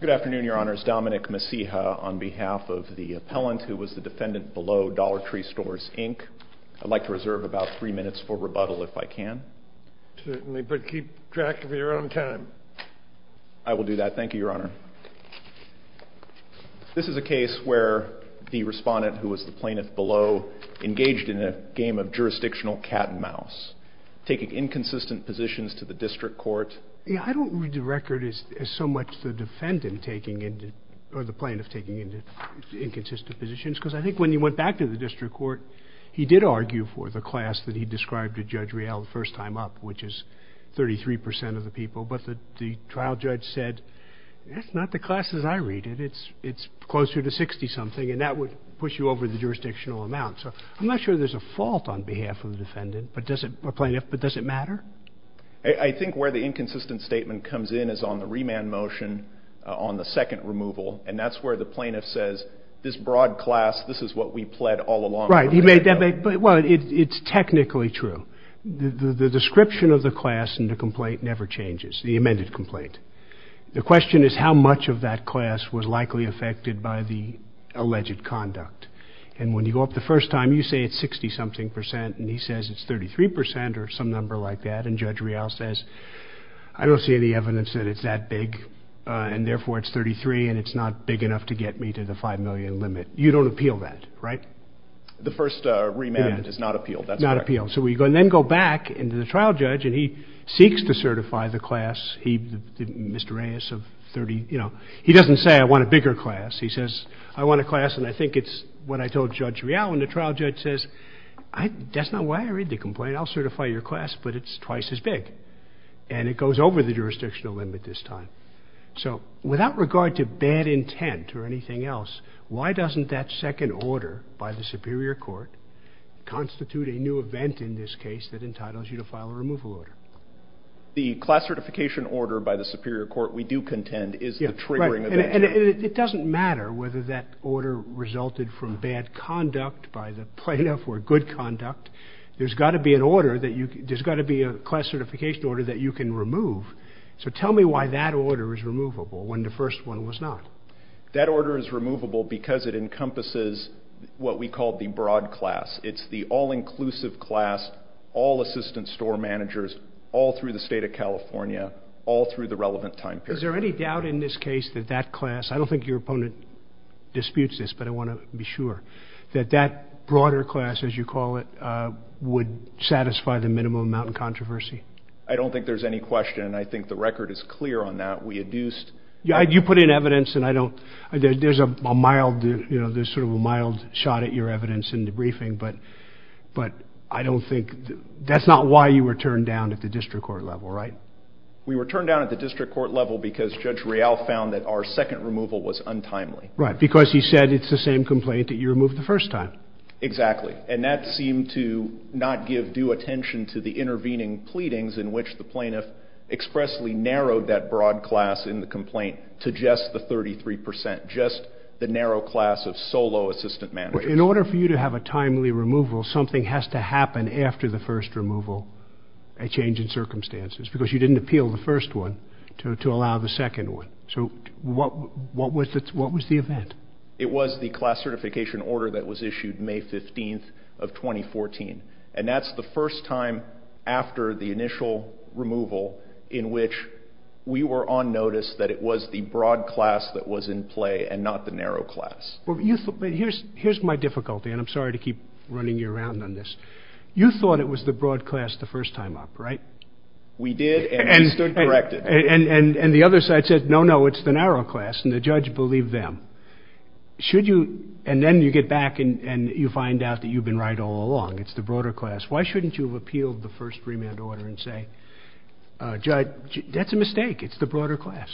Good afternoon, Your Honors. Dominic Messija on behalf of the appellant who was the defendant below Dollar Tree Stores, Inc. I'd like to reserve about three minutes for rebuttal if I can. Certainly, but keep track of your own time. I will do that. Thank you, Your Honor. This is a case where the respondent, who was the plaintiff below, engaged in a game of jurisdictional cat-and-mouse, taking inconsistent positions to the district court. I don't read the record as so much the defendant or the plaintiff taking inconsistent positions, because I think when he went back to the district court, he did argue for the class that he described to Judge Real the first time up, which is 33 percent of the people, but the trial judge said, That's not the classes I read. It's closer to 60-something, and that would push you over the jurisdictional amount. So I'm not sure there's a fault on behalf of the defendant or plaintiff, but does it matter? I think where the inconsistent statement comes in is on the remand motion on the second removal, and that's where the plaintiff says, This broad class, this is what we pled all along. Right. Well, it's technically true. The description of the class in the complaint never changes, the amended complaint. The question is how much of that class was likely affected by the alleged conduct, and when you go up the first time, you say it's 60-something percent, and he says it's 33 percent or some number like that, and Judge Real says, I don't see any evidence that it's that big, and therefore it's 33, and it's not big enough to get me to the 5 million limit. You don't appeal that, right? The first remand is not appealed. Not appealed. So we then go back into the trial judge, and he seeks to certify the class. Mr. Reyes of 30, you know, he doesn't say, I want a bigger class. He says, I want a class, and I think it's what I told Judge Real, and the trial judge says, That's not why I read the complaint. I'll certify your class, but it's twice as big, and it goes over the jurisdictional limit this time. So without regard to bad intent or anything else, why doesn't that second order by the superior court constitute a new event in this case that entitles you to file a removal order? The class certification order by the superior court, we do contend, is the triggering event. And it doesn't matter whether that order resulted from bad conduct by the plaintiff or good conduct. There's got to be a class certification order that you can remove. So tell me why that order is removable when the first one was not. That order is removable because it encompasses what we call the broad class. It's the all-inclusive class, all assistant store managers, all through the state of California, all through the relevant time period. Is there any doubt in this case that that class, I don't think your opponent disputes this, but I want to be sure, that that broader class, as you call it, would satisfy the minimum amount of controversy? I don't think there's any question, and I think the record is clear on that. You put in evidence, and there's sort of a mild shot at your evidence in the briefing, but that's not why you were turned down at the district court level, right? We were turned down at the district court level because Judge Real found that our second removal was untimely. Right, because he said it's the same complaint that you removed the first time. Exactly, and that seemed to not give due attention to the intervening pleadings in which the plaintiff expressly narrowed that broad class in the complaint to just the 33 percent, just the narrow class of solo assistant managers. In order for you to have a timely removal, something has to happen after the first removal, a change in circumstances, because you didn't appeal the first one to allow the second one. So what was the event? It was the class certification order that was issued May 15th of 2014, and that's the first time after the initial removal in which we were on notice that it was the broad class that was in play and not the narrow class. Here's my difficulty, and I'm sorry to keep running you around on this. You thought it was the broad class the first time up, right? We did, and we stood corrected. And the other side said, no, no, it's the narrow class, and the judge believed them. Should you, and then you get back and you find out that you've been right all along, it's the broader class. Why shouldn't you have appealed the first remand order and say, Judge, that's a mistake, it's the broader class?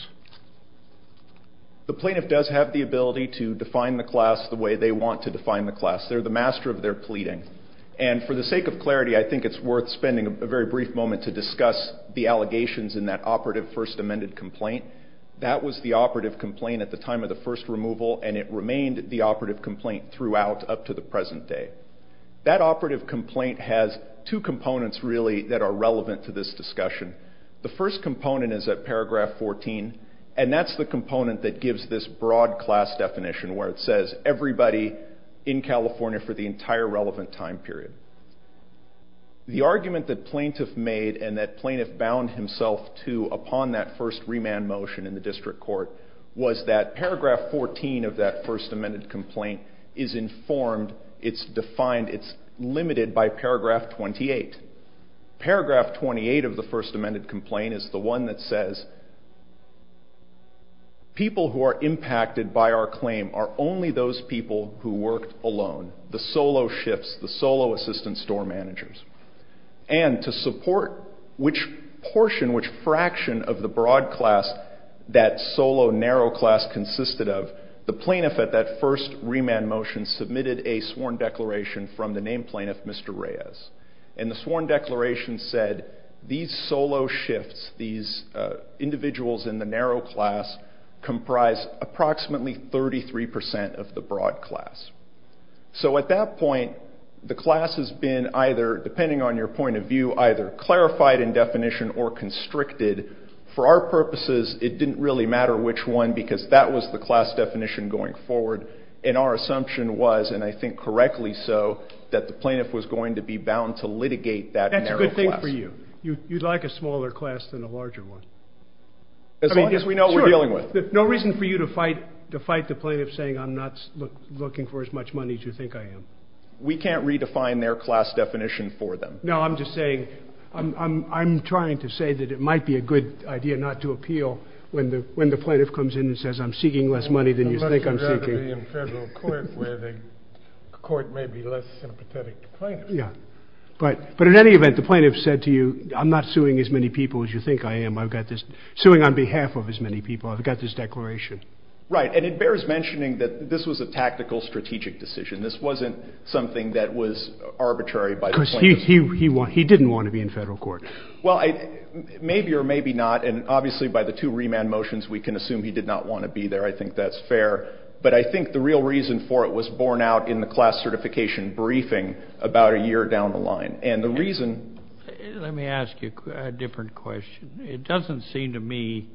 The plaintiff does have the ability to define the class the way they want to define the class. They're the master of their pleading, and for the sake of clarity, I think it's worth spending a very brief moment to discuss the allegations in that operative first amended complaint. That was the operative complaint at the time of the first removal, and it remained the operative complaint throughout up to the present day. That operative complaint has two components, really, that are relevant to this discussion. The first component is at paragraph 14, and that's the component that gives this broad class definition where it says everybody in California for the entire relevant time period. The argument that plaintiff made and that plaintiff bound himself to upon that first remand motion in the district court was that paragraph 14 of that first amended complaint is informed, it's defined, it's limited by paragraph 28. Paragraph 28 of the first amended complaint is the one that says, people who are impacted by our claim are only those people who worked alone, the solo shifts, the solo assistant store managers. And to support which portion, which fraction of the broad class that solo narrow class consisted of, the plaintiff at that first remand motion submitted a sworn declaration from the named plaintiff, Mr. Reyes. And the sworn declaration said, these solo shifts, these individuals in the narrow class comprise approximately 33% of the broad class. So at that point, the class has been either, depending on your point of view, either clarified in definition or constricted. For our purposes, it didn't really matter which one because that was the class definition going forward, and our assumption was, and I think correctly so, that the plaintiff was going to be bound to litigate that narrow class. That's a good thing for you. You'd like a smaller class than a larger one. As long as we know what we're dealing with. No reason for you to fight the plaintiff saying, I'm not looking for as much money as you think I am. We can't redefine their class definition for them. No, I'm just saying, I'm trying to say that it might be a good idea not to appeal when the plaintiff comes in and says, I'm seeking less money than you think I'm seeking. It's better to be in federal court where the court may be less sympathetic to the plaintiff. But in any event, the plaintiff said to you, I'm not suing as many people as you think I am. I'm suing on behalf of as many people. I've got this declaration. Right, and it bears mentioning that this was a tactical, strategic decision. This wasn't something that was arbitrary by the plaintiff. Because he didn't want to be in federal court. Well, maybe or maybe not, and obviously by the two remand motions we can assume he did not want to be there. I think that's fair. But I think the real reason for it was borne out in the class certification briefing about a year down the line. And the reason – Let me ask you a different question. It doesn't seem to me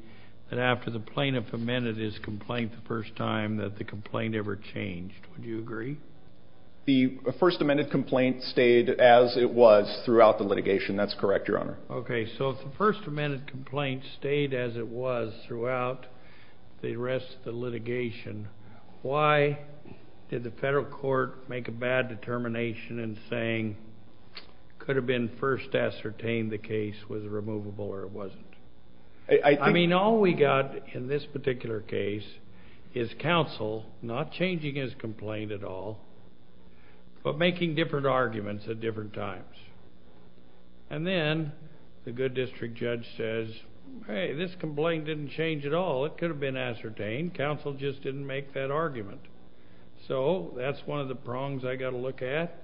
that after the plaintiff amended his complaint the first time that the complaint ever changed. Would you agree? The first amended complaint stayed as it was throughout the litigation. That's correct, Your Honor. Okay, so if the first amended complaint stayed as it was throughout the rest of the litigation, why did the federal court make a bad determination in saying it could have been first ascertained the case was removable or it wasn't? I mean, all we got in this particular case is counsel not changing his complaint at all but making different arguments at different times. And then the good district judge says, hey, this complaint didn't change at all. It could have been ascertained. Counsel just didn't make that argument. So that's one of the prongs I got to look at.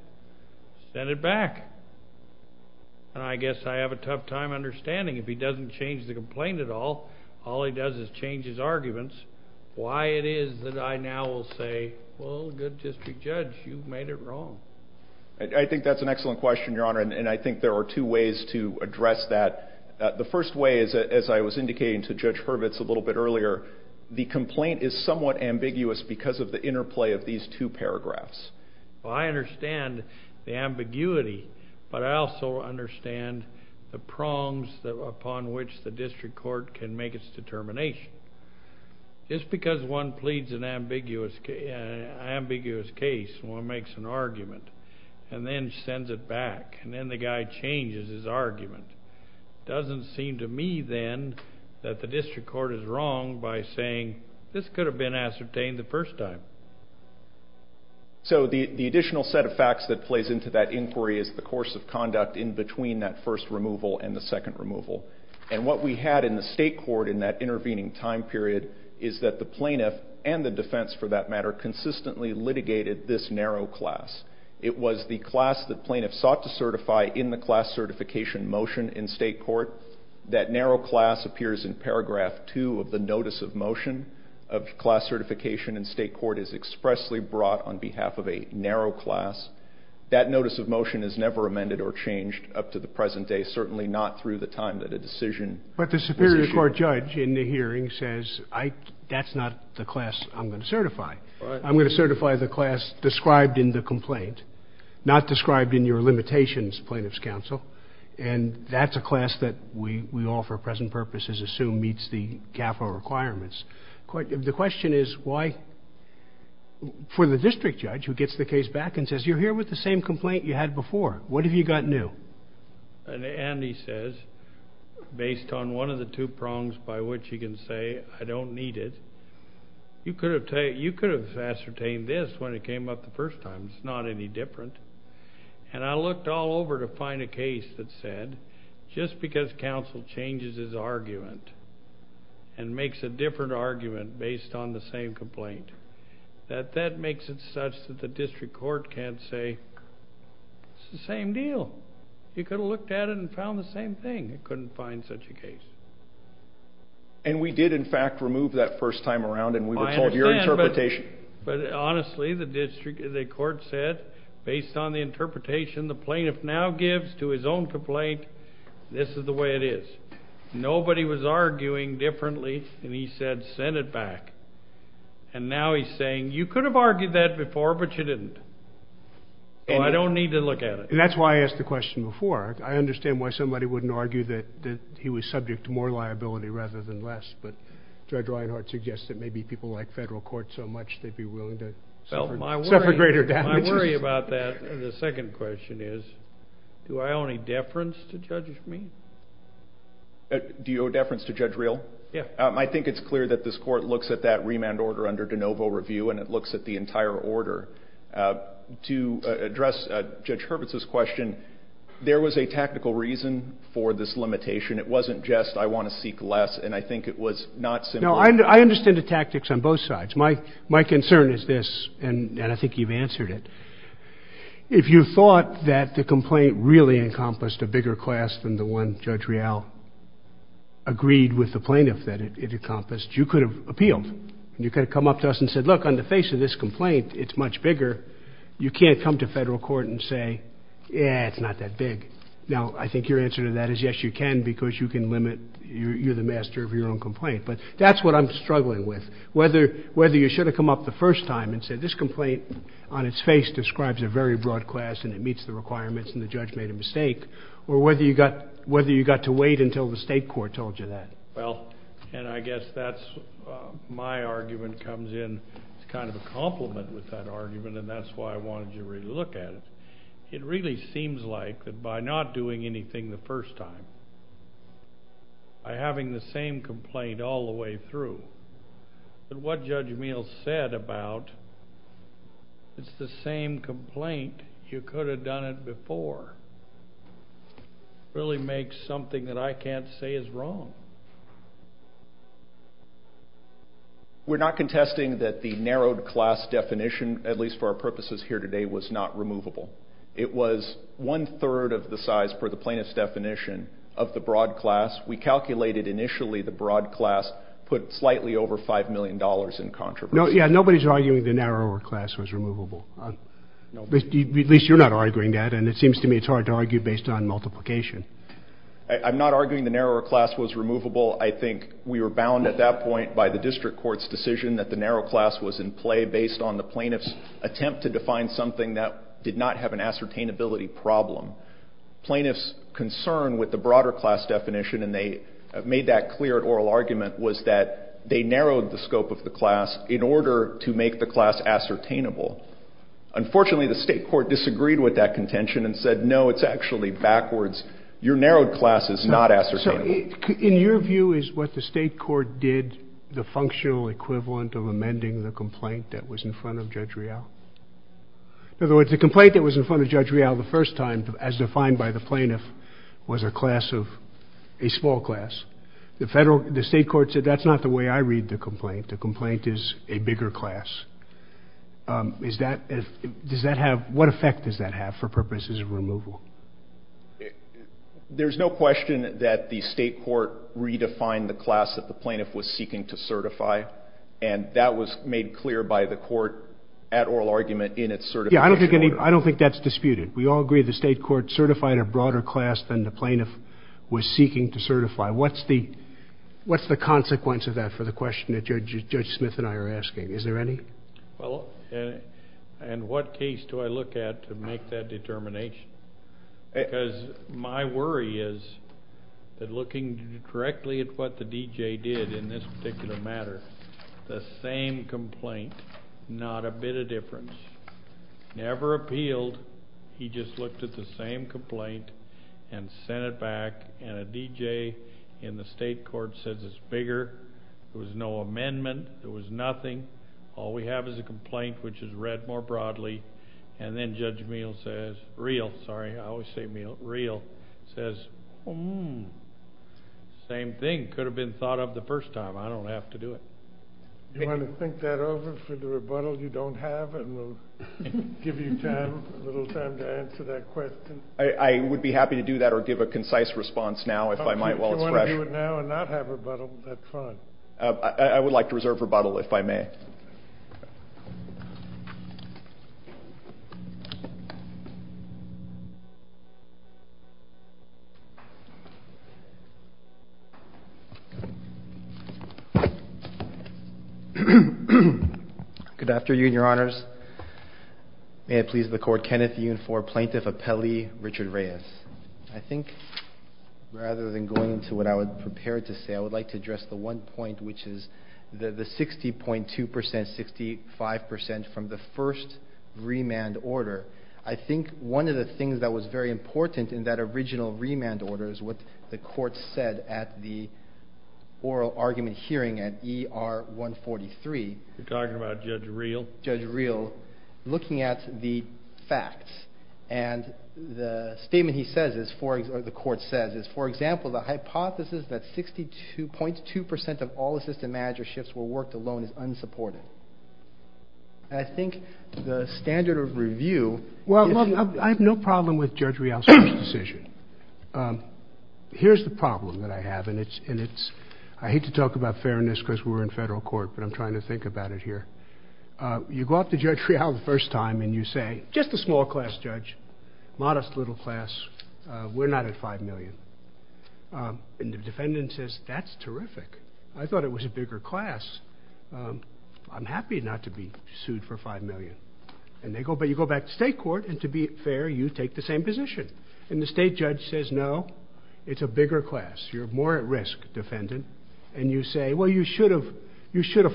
Send it back. And I guess I have a tough time understanding if he doesn't change the complaint at all, all he does is change his arguments, why it is that I now will say, well, good district judge, you've made it wrong. I think that's an excellent question, Your Honor, and I think there are two ways to address that. The first way is, as I was indicating to Judge Hurwitz a little bit earlier, the complaint is somewhat ambiguous because of the interplay of these two paragraphs. Well, I understand the ambiguity, but I also understand the prongs upon which the district court can make its determination. Just because one pleads an ambiguous case, one makes an argument, and then sends it back, and then the guy changes his argument, doesn't seem to me then that the district court is wrong by saying, this could have been ascertained the first time. So the additional set of facts that plays into that inquiry is the course of conduct in between that first removal and the second removal. And what we had in the state court in that intervening time period is that the plaintiff and the defense, for that matter, consistently litigated this narrow class. It was the class that plaintiffs sought to certify in the class certification motion in state court. That narrow class appears in paragraph two of the notice of motion of class certification in state court is expressly brought on behalf of a narrow class. That notice of motion is never amended or changed up to the present day, certainly not through the time that a decision was issued. But the superior court judge in the hearing says, that's not the class I'm going to certify. I'm going to certify the class described in the complaint, not described in your limitations plaintiff's counsel, and that's a class that we all for present purposes assume meets the CAFO requirements. The question is why, for the district judge who gets the case back and says, you're here with the same complaint you had before. What have you got new? Andy says, based on one of the two prongs by which he can say, I don't need it. You could have ascertained this when it came up the first time. It's not any different. And I looked all over to find a case that said, just because counsel changes his argument and makes a different argument based on the same complaint, that that makes it such that the district court can't say, it's the same deal. You could have looked at it and found the same thing. You couldn't find such a case. And we did, in fact, remove that first time around, and we were told your interpretation. But honestly, the court said, based on the interpretation the plaintiff now gives to his own complaint, this is the way it is. Nobody was arguing differently, and he said, send it back. And now he's saying, you could have argued that before, but you didn't. So I don't need to look at it. And that's why I asked the question before. I understand why somebody wouldn't argue that he was subject to more liability rather than less, but Judge Reinhart suggests that maybe people like federal court so much, they'd be willing to suffer greater damages. My worry about that, the second question is, do I owe any deference to Judge Mead? Do you owe deference to Judge Reel? Yeah. I think it's clear that this court looks at that remand order under de novo review, and it looks at the entire order. To address Judge Hurwitz's question, there was a technical reason for this limitation. It wasn't just I want to seek less, and I think it was not simply. No, I understand the tactics on both sides. My concern is this, and I think you've answered it. If you thought that the complaint really encompassed a bigger class than the one Judge Reel agreed with the plaintiff that it encompassed, you could have appealed, and you could have come up to us and said, look, on the face of this complaint, it's much bigger. You can't come to federal court and say, yeah, it's not that big. Now, I think your answer to that is, yes, you can, because you can limit. You're the master of your own complaint. But that's what I'm struggling with, whether you should have come up the first time and said, this complaint on its face describes a very broad class, and it meets the requirements, and the judge made a mistake, or whether you got to wait until the state court told you that. Well, and I guess that's my argument comes in as kind of a complement with that argument, and that's why I wanted you to really look at it. It really seems like that by not doing anything the first time, by having the same complaint all the way through, that what Judge Meehl said about it's the same complaint, you could have done it before, really makes something that I can't say is wrong. We're not contesting that the narrowed class definition, at least for our purposes here today, was not removable. It was one-third of the size, per the plaintiff's definition, of the broad class. We calculated initially the broad class put slightly over $5 million in controversy. Yeah, nobody's arguing the narrower class was removable. At least you're not arguing that, and it seems to me it's hard to argue based on multiplication. I'm not arguing the narrower class was removable. I think we were bound at that point by the district court's decision that the narrow class was in play based on the plaintiff's attempt to define something that did not have an ascertainability problem. Plaintiff's concern with the broader class definition, and they made that clear at oral argument, was that they narrowed the scope of the class in order to make the class ascertainable. Unfortunately, the state court disagreed with that contention and said, no, it's actually backwards. Your narrowed class is not ascertainable. In your view, is what the state court did the functional equivalent of amending the complaint that was in front of Judge Real? In other words, the complaint that was in front of Judge Real the first time, as defined by the plaintiff, was a small class. The state court said, that's not the way I read the complaint. The complaint is a bigger class. What effect does that have for purposes of removal? There's no question that the state court redefined the class that the plaintiff was seeking to certify, and that was made clear by the court at oral argument in its certification order. I don't think that's disputed. We all agree the state court certified a broader class than the plaintiff was seeking to certify. What's the consequence of that for the question that Judge Smith and I are asking? Is there any? Well, in what case do I look at to make that determination? Because my worry is that looking directly at what the D.J. did in this particular matter, the same complaint, not a bit of difference, never appealed. He just looked at the same complaint and sent it back, and a D.J. in the state court says it's bigger. There was no amendment. There was nothing. All we have is a complaint, which is read more broadly. And then Judge Meal says, real, sorry, I always say Meal, real, says, oh, same thing. Could have been thought of the first time. I don't have to do it. Do you want to think that over for the rebuttal you don't have, and we'll give you time, a little time to answer that question? I would be happy to do that or give a concise response now if I might while it's fresh. If you want to do it now and not have rebuttal, that's fine. I would like to reserve rebuttal if I may. Good afternoon, Your Honors. May it please the Court, Kenneth Yun for Plaintiff Appellee Richard Reyes. I think rather than going into what I would prepare to say, I would like to address the one point, which is the 60.2%, 65% from the first remand order. I think one of the things that was very important in that original remand order is what the court said at the oral argument hearing at ER 143. You're talking about Judge Reel? Judge Reel looking at the facts. The statement he says, or the court says, is, for example, the hypothesis that 62.2% of all assistant manager shifts were worked alone is unsupported. I think the standard of review is... I have no problem with Judge Reel's decision. Here's the problem that I have. I hate to talk about fairness because we're in federal court, but I'm trying to think about it here. You go up to Judge Reel the first time and you say... Just a small class, Judge. Modest little class. We're not at 5 million. And the defendant says, that's terrific. I thought it was a bigger class. I'm happy not to be sued for 5 million. But you go back to state court, and to be fair, you take the same position. And the state judge says, no, it's a bigger class. You're more at risk, defendant. And you were the one who said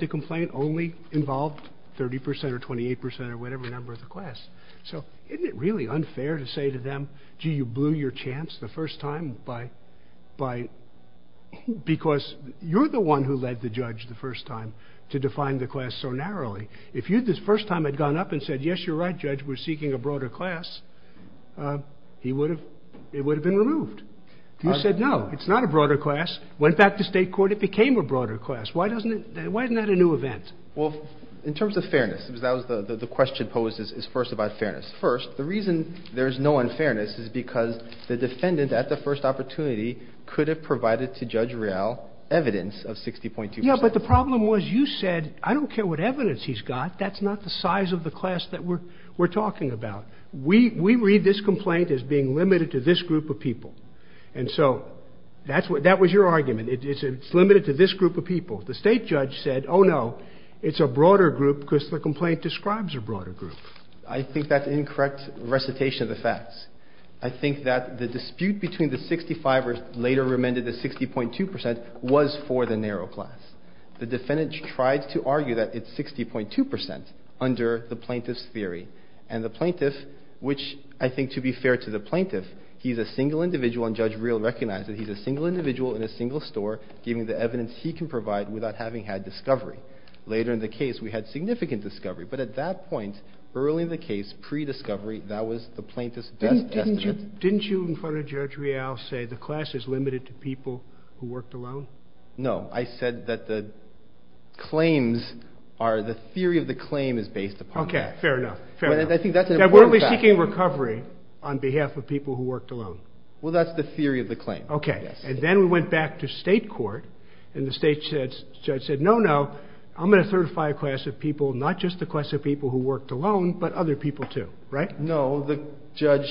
the complaint only involved 30% or 28% or whatever number of the class. So isn't it really unfair to say to them, gee, you blew your chance the first time by... Because you're the one who led the judge the first time to define the class so narrowly. If you this first time had gone up and said, yes, you're right, Judge, we're seeking a broader class, it would have been removed. You said, no, it's not a broader class. Went back to state court, it became a broader class. Why isn't that a new event? Well, in terms of fairness, the question posed is first about fairness. First, the reason there's no unfairness is because the defendant at the first opportunity could have provided to Judge Reel evidence of 60.2%. Yeah, but the problem was you said, I don't care what evidence he's got. That's not the size of the class that we're talking about. We read this complaint as being limited to this group of people. And so that was your argument. It's limited to this group of people. The state judge said, oh, no, it's a broader group because the complaint describes a broader group. I think that's an incorrect recitation of the facts. I think that the dispute between the 65 or later amended to 60.2% was for the narrow class. The defendant tried to argue that it's 60.2% under the plaintiff's theory. And the plaintiff, which I think to be fair to the plaintiff, he's a single individual, and Judge Reel recognized that he's a single individual in a single store, giving the evidence he can provide without having had discovery. Later in the case, we had significant discovery. But at that point, early in the case, pre-discovery, that was the plaintiff's best estimate. Didn't you, in front of Judge Reel, say the class is limited to people who worked alone? No. I said that the claims are, the theory of the claim is based upon that. Okay. Fair enough. Fair enough. I think that's an important fact. Now, weren't we seeking recovery on behalf of people who worked alone? Well, that's the theory of the claim. Okay. And then we went back to state court, and the state judge said, no, no, I'm going to certify a class of people, not just the class of people who worked alone, but other people too. Right? No. The judge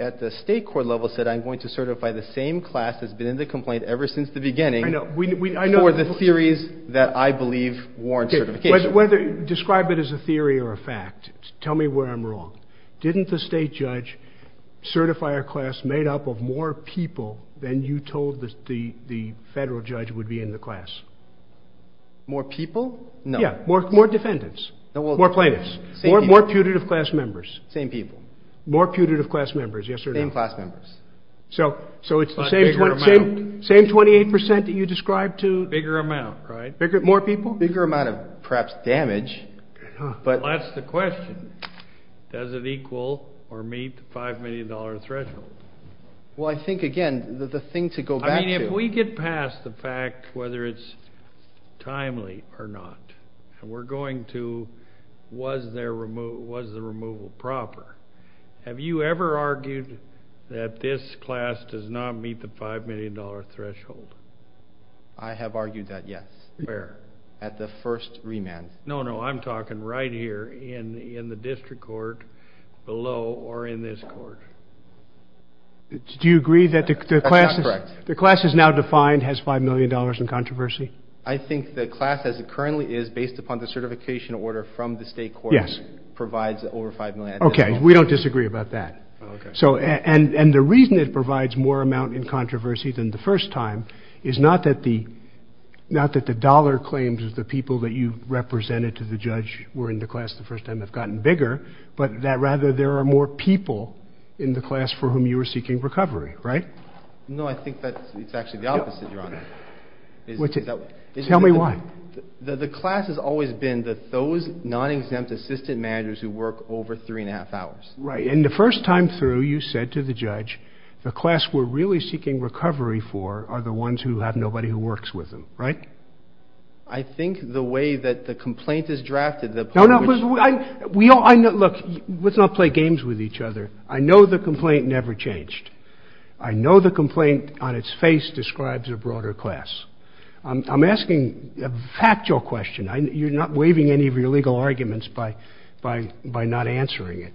at the state court level said, I'm going to certify the same class that's been in the complaint ever since the beginning. I know. For the theories that I believe warrant certification. Describe it as a theory or a fact. Tell me where I'm wrong. Didn't the state judge certify a class made up of more people than you told the federal judge would be in the class? More people? No. Yeah. More defendants. More plaintiffs. More putative class members. Same people. More putative class members. Yes or no? Same class members. So it's the same 28% that you described to? Bigger amount, right? More people? Bigger amount of perhaps damage. That's the question. Does it equal or meet the $5 million threshold? Well, I think, again, the thing to go back to. I mean, if we get past the fact whether it's timely or not, and we're going to was the removal proper, have you ever argued that this class does not meet the $5 million threshold? I have argued that, yes. Where? At the first remand. No, no. I'm talking right here in the district court below or in this court. Do you agree that the class is now defined has $5 million in controversy? I think the class as it currently is, based upon the certification order from the state court, provides over $5 million. Okay. We don't disagree about that. And the reason it provides more amount in controversy than the first time is not that the dollar claims of the people that you represented to the judge were in the class the first time have gotten bigger, but that rather there are more people in the class for whom you were seeking recovery, right? No, I think that's actually the opposite, Your Honor. Tell me why. The class has always been those non-exempt assistant managers who work over three and a half hours. Right. And the first time through, you said to the judge, the class we're really seeking recovery for are the ones who have nobody who works with them, right? I think the way that the complaint is drafted, the part which— No, no. Look, let's not play games with each other. I know the complaint never changed. I know the complaint on its face describes a broader class. I'm asking a factual question. You're not waiving any of your legal arguments by not answering it.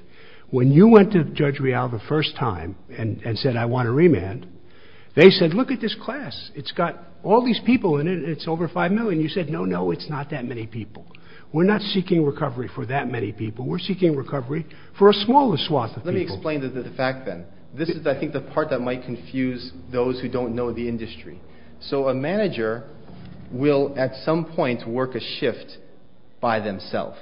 When you went to Judge Rial the first time and said, I want a remand, they said, look at this class. It's got all these people in it, and it's over 5 million. You said, no, no, it's not that many people. We're not seeking recovery for that many people. We're seeking recovery for a smaller swath of people. Let me explain the fact then. This is, I think, the part that might confuse those who don't know the industry. So a manager will at some point work a shift by themselves,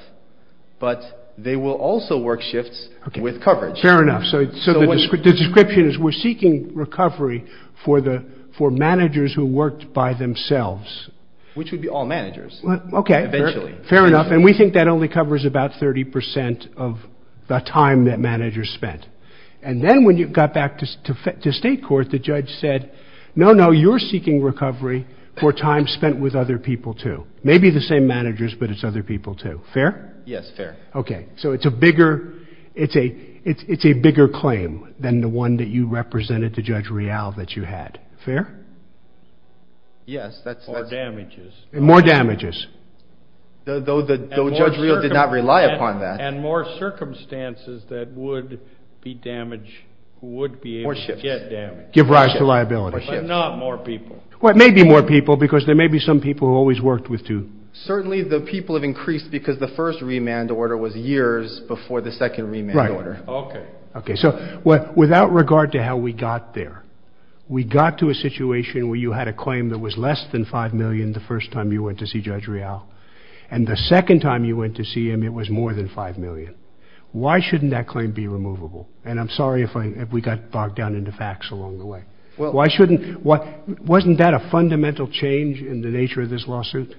but they will also work shifts with coverage. Fair enough. So the description is we're seeking recovery for managers who worked by themselves. Which would be all managers eventually. Fair enough. And we think that only covers about 30 percent of the time that managers spent. And then when you got back to state court, the judge said, no, no, you're seeking recovery for time spent with other people too. Maybe the same managers, but it's other people too. Fair? Yes, fair. Okay. So it's a bigger claim than the one that you represented to Judge Rial that you had. Fair? Yes. More damages. More damages. Though Judge Rial did not rely upon that. And more circumstances that would be damaged, would be able to get damaged. Give rise to liability. But not more people. Well, it may be more people because there may be some people who always worked with two. Certainly the people have increased because the first remand order was years before the second remand order. Right. Okay. Okay. So without regard to how we got there, we got to a situation where you had a claim that was less than $5 million the first time you went to see Judge Rial. And the second time you went to see him, it was more than $5 million. Why shouldn't that claim be removable? And I'm sorry if we got bogged down into facts along the way. Wasn't that a fundamental change in the nature of this lawsuit?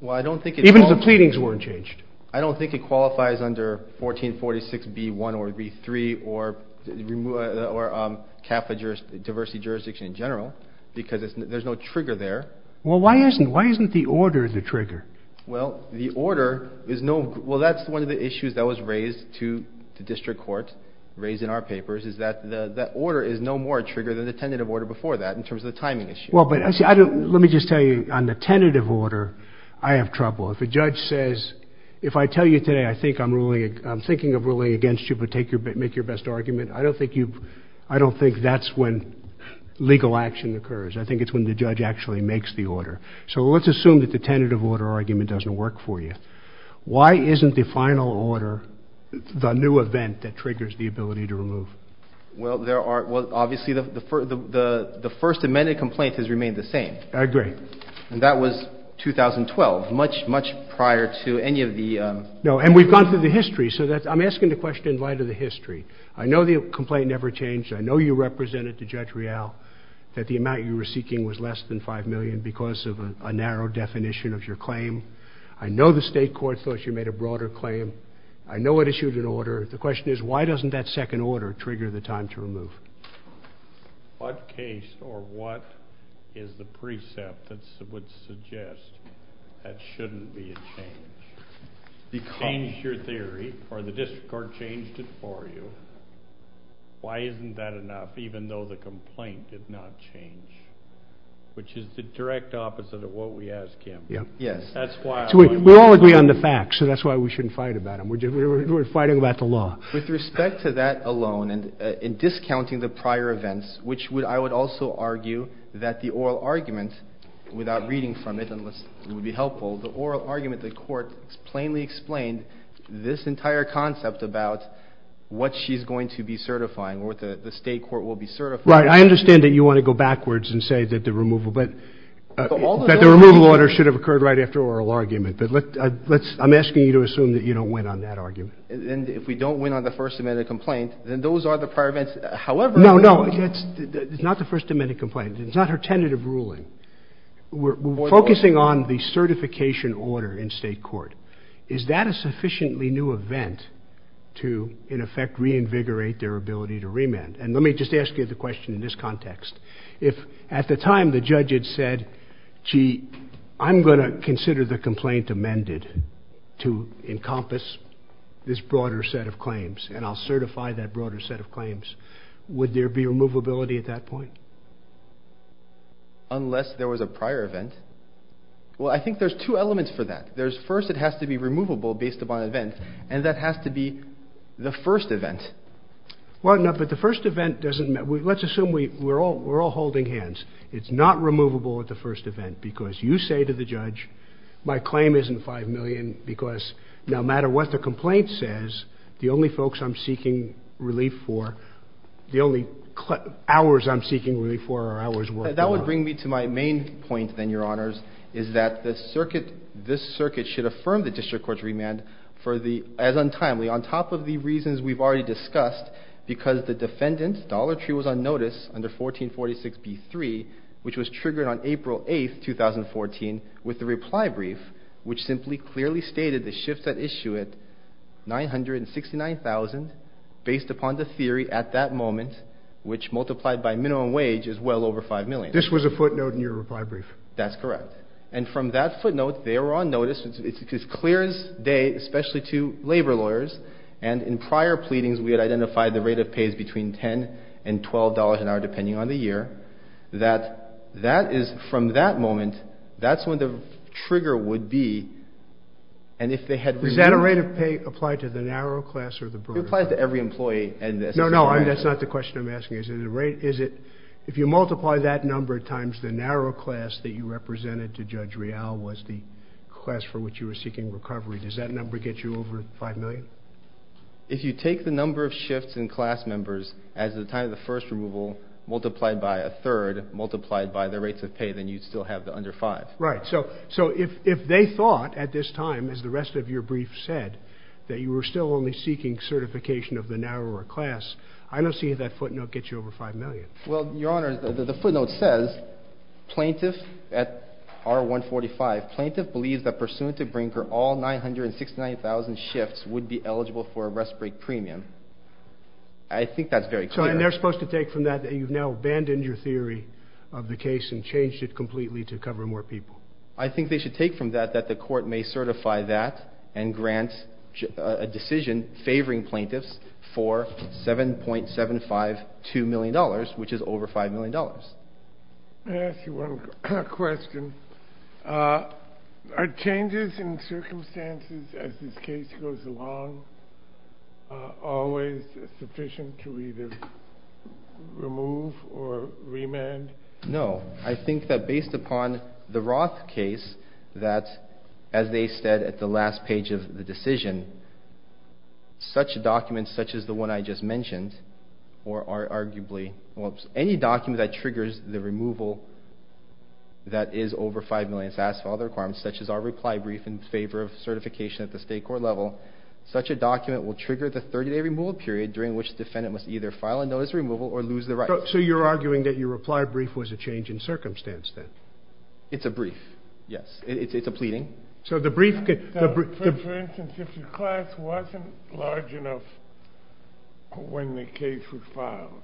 Even if the pleadings weren't changed? I don't think it qualifies under 1446B1 or B3 or CAFA diversity jurisdiction in general because there's no trigger there. Well, that's one of the issues that was raised to the district court, raised in our papers, is that the order is no more a trigger than the tentative order before that in terms of the timing issue. Well, but let me just tell you, on the tentative order, I have trouble. If a judge says, if I tell you today I'm thinking of ruling against you but make your best argument, I don't think that's when legal action occurs. So let's assume that the tentative order argument doesn't work for you. Why isn't the final order the new event that triggers the ability to remove? Well, obviously the first amended complaint has remained the same. I agree. And that was 2012, much, much prior to any of the... No, and we've gone through the history, so I'm asking the question in light of the history. I know the complaint never changed. I know you represented to Judge Rial that the amount you were seeking was less than $5 million because of a narrow definition of your claim. I know the state court thought you made a broader claim. I know it issued an order. The question is, why doesn't that second order trigger the time to remove? What case or what is the precept that would suggest that shouldn't be a change? Change your theory or the district court changed it for you. Why isn't that enough, even though the complaint did not change? Which is the direct opposite of what we asked, Kim. Yes. We all agree on the facts, so that's why we shouldn't fight about them. We're fighting about the law. With respect to that alone and discounting the prior events, which I would also argue that the oral argument, without reading from it unless it would be helpful, the oral argument the court plainly explained this entire concept about what she's going to be certifying or what the state court will be certifying. Right. I understand that you want to go backwards and say that the removal order should have occurred right after oral argument. But I'm asking you to assume that you don't win on that argument. And if we don't win on the First Amendment complaint, then those are the prior events. No, no. It's not the First Amendment complaint. It's not her tentative ruling. We're focusing on the certification order in state court. And let me just ask you the question in this context. If at the time the judge had said, gee, I'm going to consider the complaint amended to encompass this broader set of claims, and I'll certify that broader set of claims, would there be removability at that point? Unless there was a prior event. Well, I think there's two elements for that. First, it has to be removable based upon event, and that has to be the first event. Well, no, but the first event doesn't matter. Let's assume we're all holding hands. It's not removable at the first event because you say to the judge, my claim isn't 5 million because no matter what the complaint says, the only folks I'm seeking relief for, the only hours I'm seeking relief for are hours worth of time. That would bring me to my main point, then, Your Honors, is that this circuit should affirm the district court's remand as untimely on top of the reasons we've already discussed because the defendant, Dollar Tree, was on notice under 1446B3, which was triggered on April 8, 2014, with the reply brief, which simply clearly stated the shifts that issue it, 969,000, based upon the theory at that moment, which multiplied by minimum wage is well over 5 million. This was a footnote in your reply brief. That's correct. And from that footnote, they were on notice. It's as clear as day, especially to labor lawyers. And in prior pleadings, we had identified the rate of pay is between $10 and $12 an hour, depending on the year. That is from that moment, that's when the trigger would be. And if they had remanded. Does that rate of pay apply to the narrow class or the broader class? It applies to every employee. No, no, that's not the question I'm asking. Is it if you multiply that number times the narrow class that you represented to Judge Real was the class for which you were seeking recovery, does that number get you over 5 million? If you take the number of shifts in class members as the time of the first removal, multiplied by a third, multiplied by the rates of pay, then you'd still have the under 5. Right. So if they thought at this time, as the rest of your brief said, that you were still only seeking certification of the narrower class, I don't see if that footnote gets you over 5 million. Well, Your Honor, the footnote says, plaintiff at R145, plaintiff believes that pursuant to Brinker, all 969,000 shifts would be eligible for a rest break premium. I think that's very clear. So they're supposed to take from that that you've now abandoned your theory of the case and changed it completely to cover more people. I think they should take from that that the court may certify that and grant a decision favoring plaintiffs for $7.752 million, which is over $5 million. May I ask you one question? Are changes in circumstances as this case goes along always sufficient to either remove or remand? No. I think that based upon the Roth case that, as they said at the last page of the decision, such documents, such as the one I just mentioned, or arguably any document that triggers the removal that is over $5 million, such as our reply brief in favor of certification at the state court level, such a document will trigger the 30-day removal period during which the defendant must either file a notice of removal or lose their rights. So you're arguing that your reply brief was a change in circumstance then? It's a brief, yes. It's a pleading. For instance, if your class wasn't large enough when the case was filed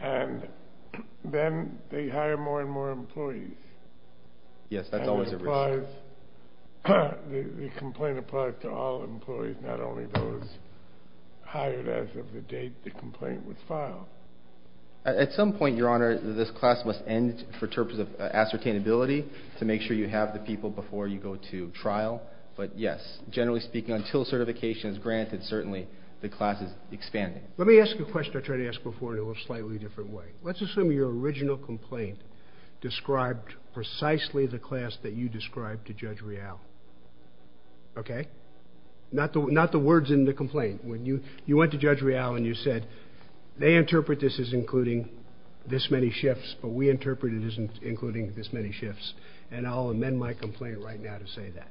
and then they hire more and more employees. Yes, that's always a risk. And it applies, the complaint applies to all employees, not only those hired as of the date the complaint was filed. At some point, Your Honor, this class must end for purposes of ascertainability to make sure you have the people before you go to trial. But yes, generally speaking, until certification is granted, certainly the class is expanding. Let me ask you a question I tried to ask before in a slightly different way. Let's assume your original complaint described precisely the class that you described to Judge Real. Okay? Not the words in the complaint. You went to Judge Real and you said, they interpret this as including this many shifts, but we interpret it as including this many shifts, and I'll amend my complaint right now to say that.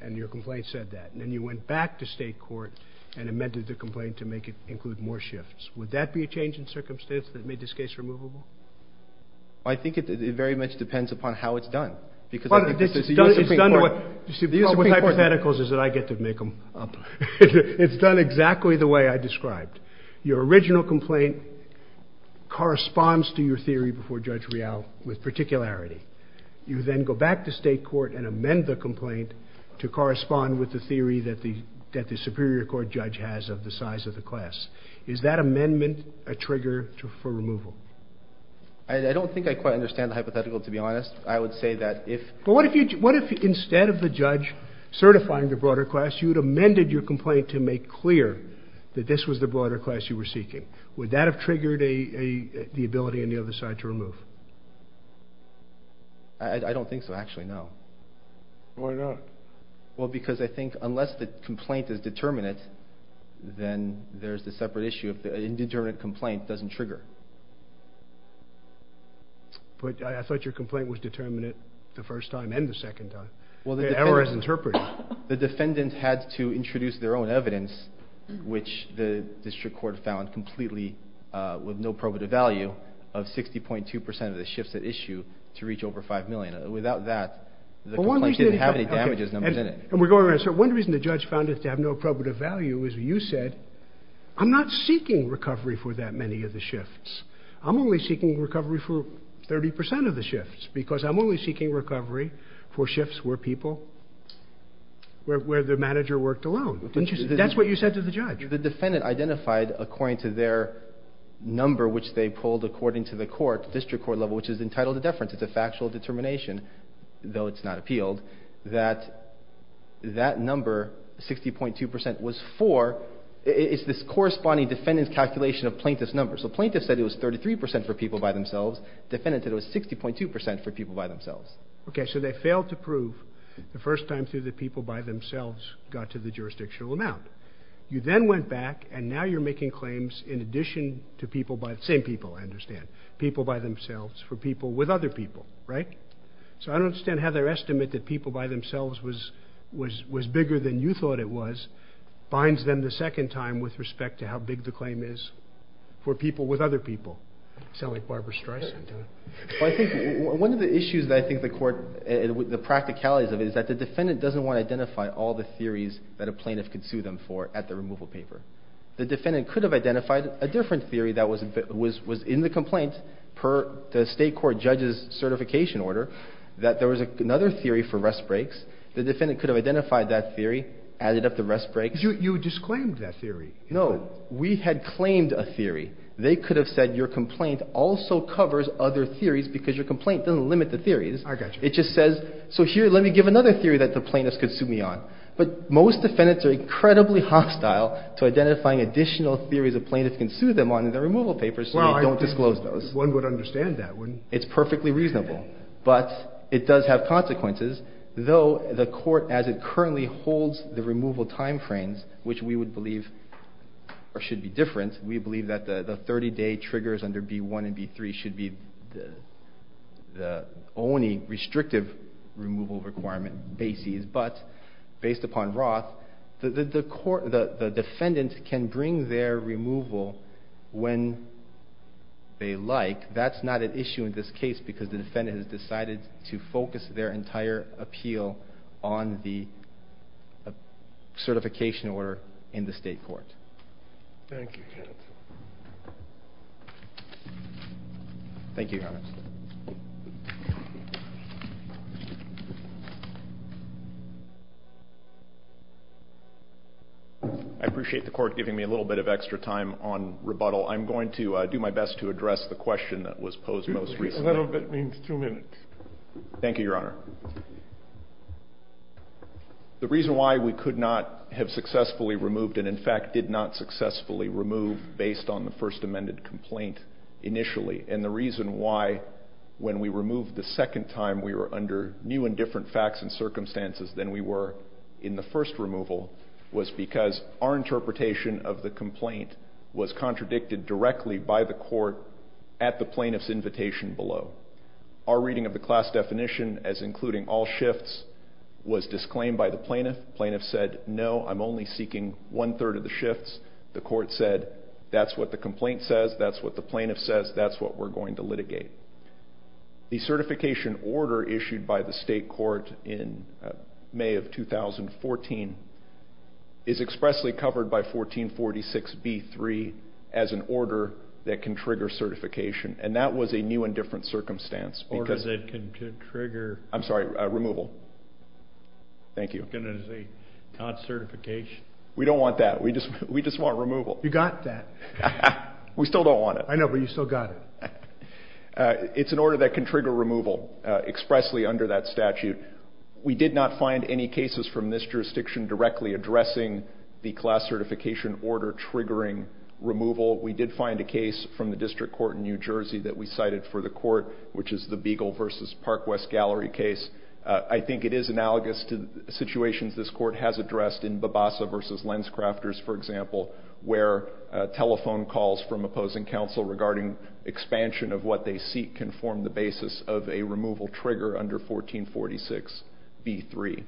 And your complaint said that. And then you went back to State court and amended the complaint to make it include more shifts. Would that be a change in circumstance that made this case removable? I think it very much depends upon how it's done. Because I think this is the U.S. Supreme Court. The issue with hypotheticals is that I get to make them up. It's done exactly the way I described. Your original complaint corresponds to your theory before Judge Real with particularity. You then go back to State court and amend the complaint to correspond with the theory that the Superior Court judge has of the size of the class. Is that amendment a trigger for removal? I don't think I quite understand the hypothetical, to be honest. I would say that if... But what if instead of the judge certifying the broader class, you'd amended your complaint to make clear that this was the broader class you were seeking? Would that have triggered the ability on the other side to remove? I don't think so, actually, no. Why not? Well, because I think unless the complaint is determinate, then there's the separate issue. An indeterminate complaint doesn't trigger. But I thought your complaint was determinate the first time and the second time. The error is interpreted. The defendant had to introduce their own evidence, which the district court found completely with no probative value, of 60.2% of the shifts at issue to reach over $5 million. Without that, the complaint didn't have any damages numbers in it. And we're going around. So one reason the judge found it to have no probative value is you said, I'm not seeking recovery for that many of the shifts. I'm only seeking recovery for 30% of the shifts because I'm only seeking recovery for shifts where people, where the manager worked alone. That's what you said to the judge. The defendant identified, according to their number, which they pulled according to the court, district court level, which is entitled to deference. It's a factual determination, though it's not appealed, that that number, 60.2%, was for, it's this corresponding defendant's calculation of plaintiff's number. So plaintiff said it was 33% for people by themselves. Defendant said it was 60.2% for people by themselves. Okay, so they failed to prove the first time through that people by themselves got to the jurisdictional amount. You then went back, and now you're making claims in addition to people by, same people, I understand, people by themselves, for people with other people, right? So I don't understand how their estimate that people by themselves was bigger than you thought it was, binds them the second time with respect to how big the claim is for people with other people. Sound like Barbara Streisand to me. Well, I think one of the issues that I think the court, the practicalities of it, is that the defendant doesn't want to identify all the theories that a plaintiff could sue them for at the removal paper. The defendant could have identified a different theory that was in the complaint, per the state court judge's certification order, that there was another theory for rest breaks. The defendant could have identified that theory, added up the rest breaks. You disclaimed that theory. No, we had claimed a theory. They could have said, your complaint also covers other theories because your complaint doesn't limit the theories. I got you. It just says, so here, let me give another theory that the plaintiffs could sue me on. But most defendants are incredibly hostile to identifying additional theories a plaintiff can sue them on in their removal papers, so they don't disclose those. Well, I think one would understand that, wouldn't they? It's perfectly reasonable. But it does have consequences, though the court, as it currently holds the removal time frames, which we would believe should be different. We believe that the 30-day triggers under B1 and B3 should be the only restrictive removal requirement basis. But based upon Roth, the defendant can bring their removal when they like. That's not an issue in this case because the defendant has decided to focus their entire appeal on the certification order in the state court. Thank you, Your Honor. Thank you, Your Honor. I appreciate the court giving me a little bit of extra time on rebuttal. I'm going to do my best to address the question that was posed most recently. A little bit means two minutes. Thank you, Your Honor. The reason why we could not have successfully removed and, in fact, did not successfully remove based on the first amended complaint initially, and the reason why when we removed the second time we were under new and different facts and circumstances than we were in the first removal was because our interpretation of the complaint was contradicted directly by the court at the plaintiff's invitation below. Our reading of the class definition as including all shifts was disclaimed by the plaintiff. The plaintiff said, No, I'm only seeking one-third of the shifts. The court said, That's what the complaint says. That's what the plaintiff says. That's what we're going to litigate. The certification order issued by the state court in May of 2014 is expressly covered by 1446B3 as an order that can trigger certification, and that was a new and different circumstance. Order that can trigger? I'm sorry, removal. Thank you. I was going to say not certification. We don't want that. We just want removal. You got that. We still don't want it. I know, but you still got it. It's an order that can trigger removal expressly under that statute. We did not find any cases from this jurisdiction directly addressing the class certification order triggering removal. We did find a case from the district court in New Jersey that we cited for the court, which is the Beagle v. Park West Gallery case. I think it is analogous to situations this court has addressed in Babasa v. Lenscrafters, for example, where telephone calls from opposing counsel regarding expansion of what they seek can form the basis of a removal trigger under 1446B3.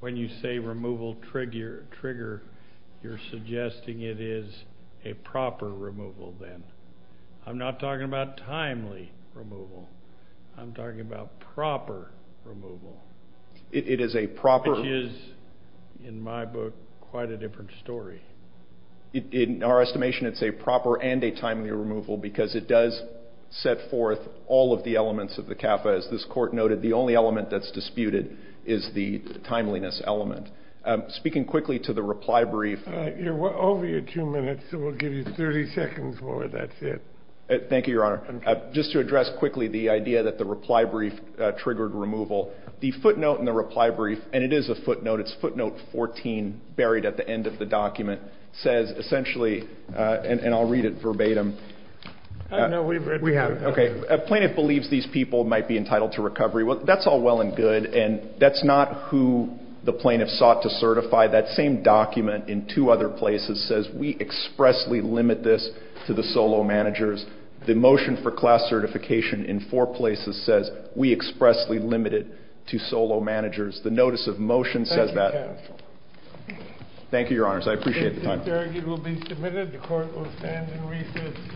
When you say removal trigger, you're suggesting it is a proper removal then. I'm not talking about timely removal. I'm talking about proper removal. It is a proper removal. Which is, in my book, quite a different story. In our estimation, it's a proper and a timely removal because it does set forth all of the elements of the CAFA. As this court noted, the only element that's disputed is the timeliness element. Speaking quickly to the reply brief... You're over your two minutes, so we'll give you 30 seconds more. That's it. Thank you, Your Honor. Just to address quickly the idea that the reply brief triggered removal, the footnote in the reply brief, and it is a footnote, it's footnote 14 buried at the end of the document, says essentially, and I'll read it verbatim... No, we've read it. Okay. A plaintiff believes these people might be entitled to recovery. Well, that's all well and good, and that's not who the plaintiff sought to certify. That same document in two other places says we expressly limit this to the solo managers. The motion for class certification in four places says we expressly limit it to solo managers. The notice of motion says that. Thank you, Your Honor. I appreciate the time. This argument will be submitted. The court will stand in recess.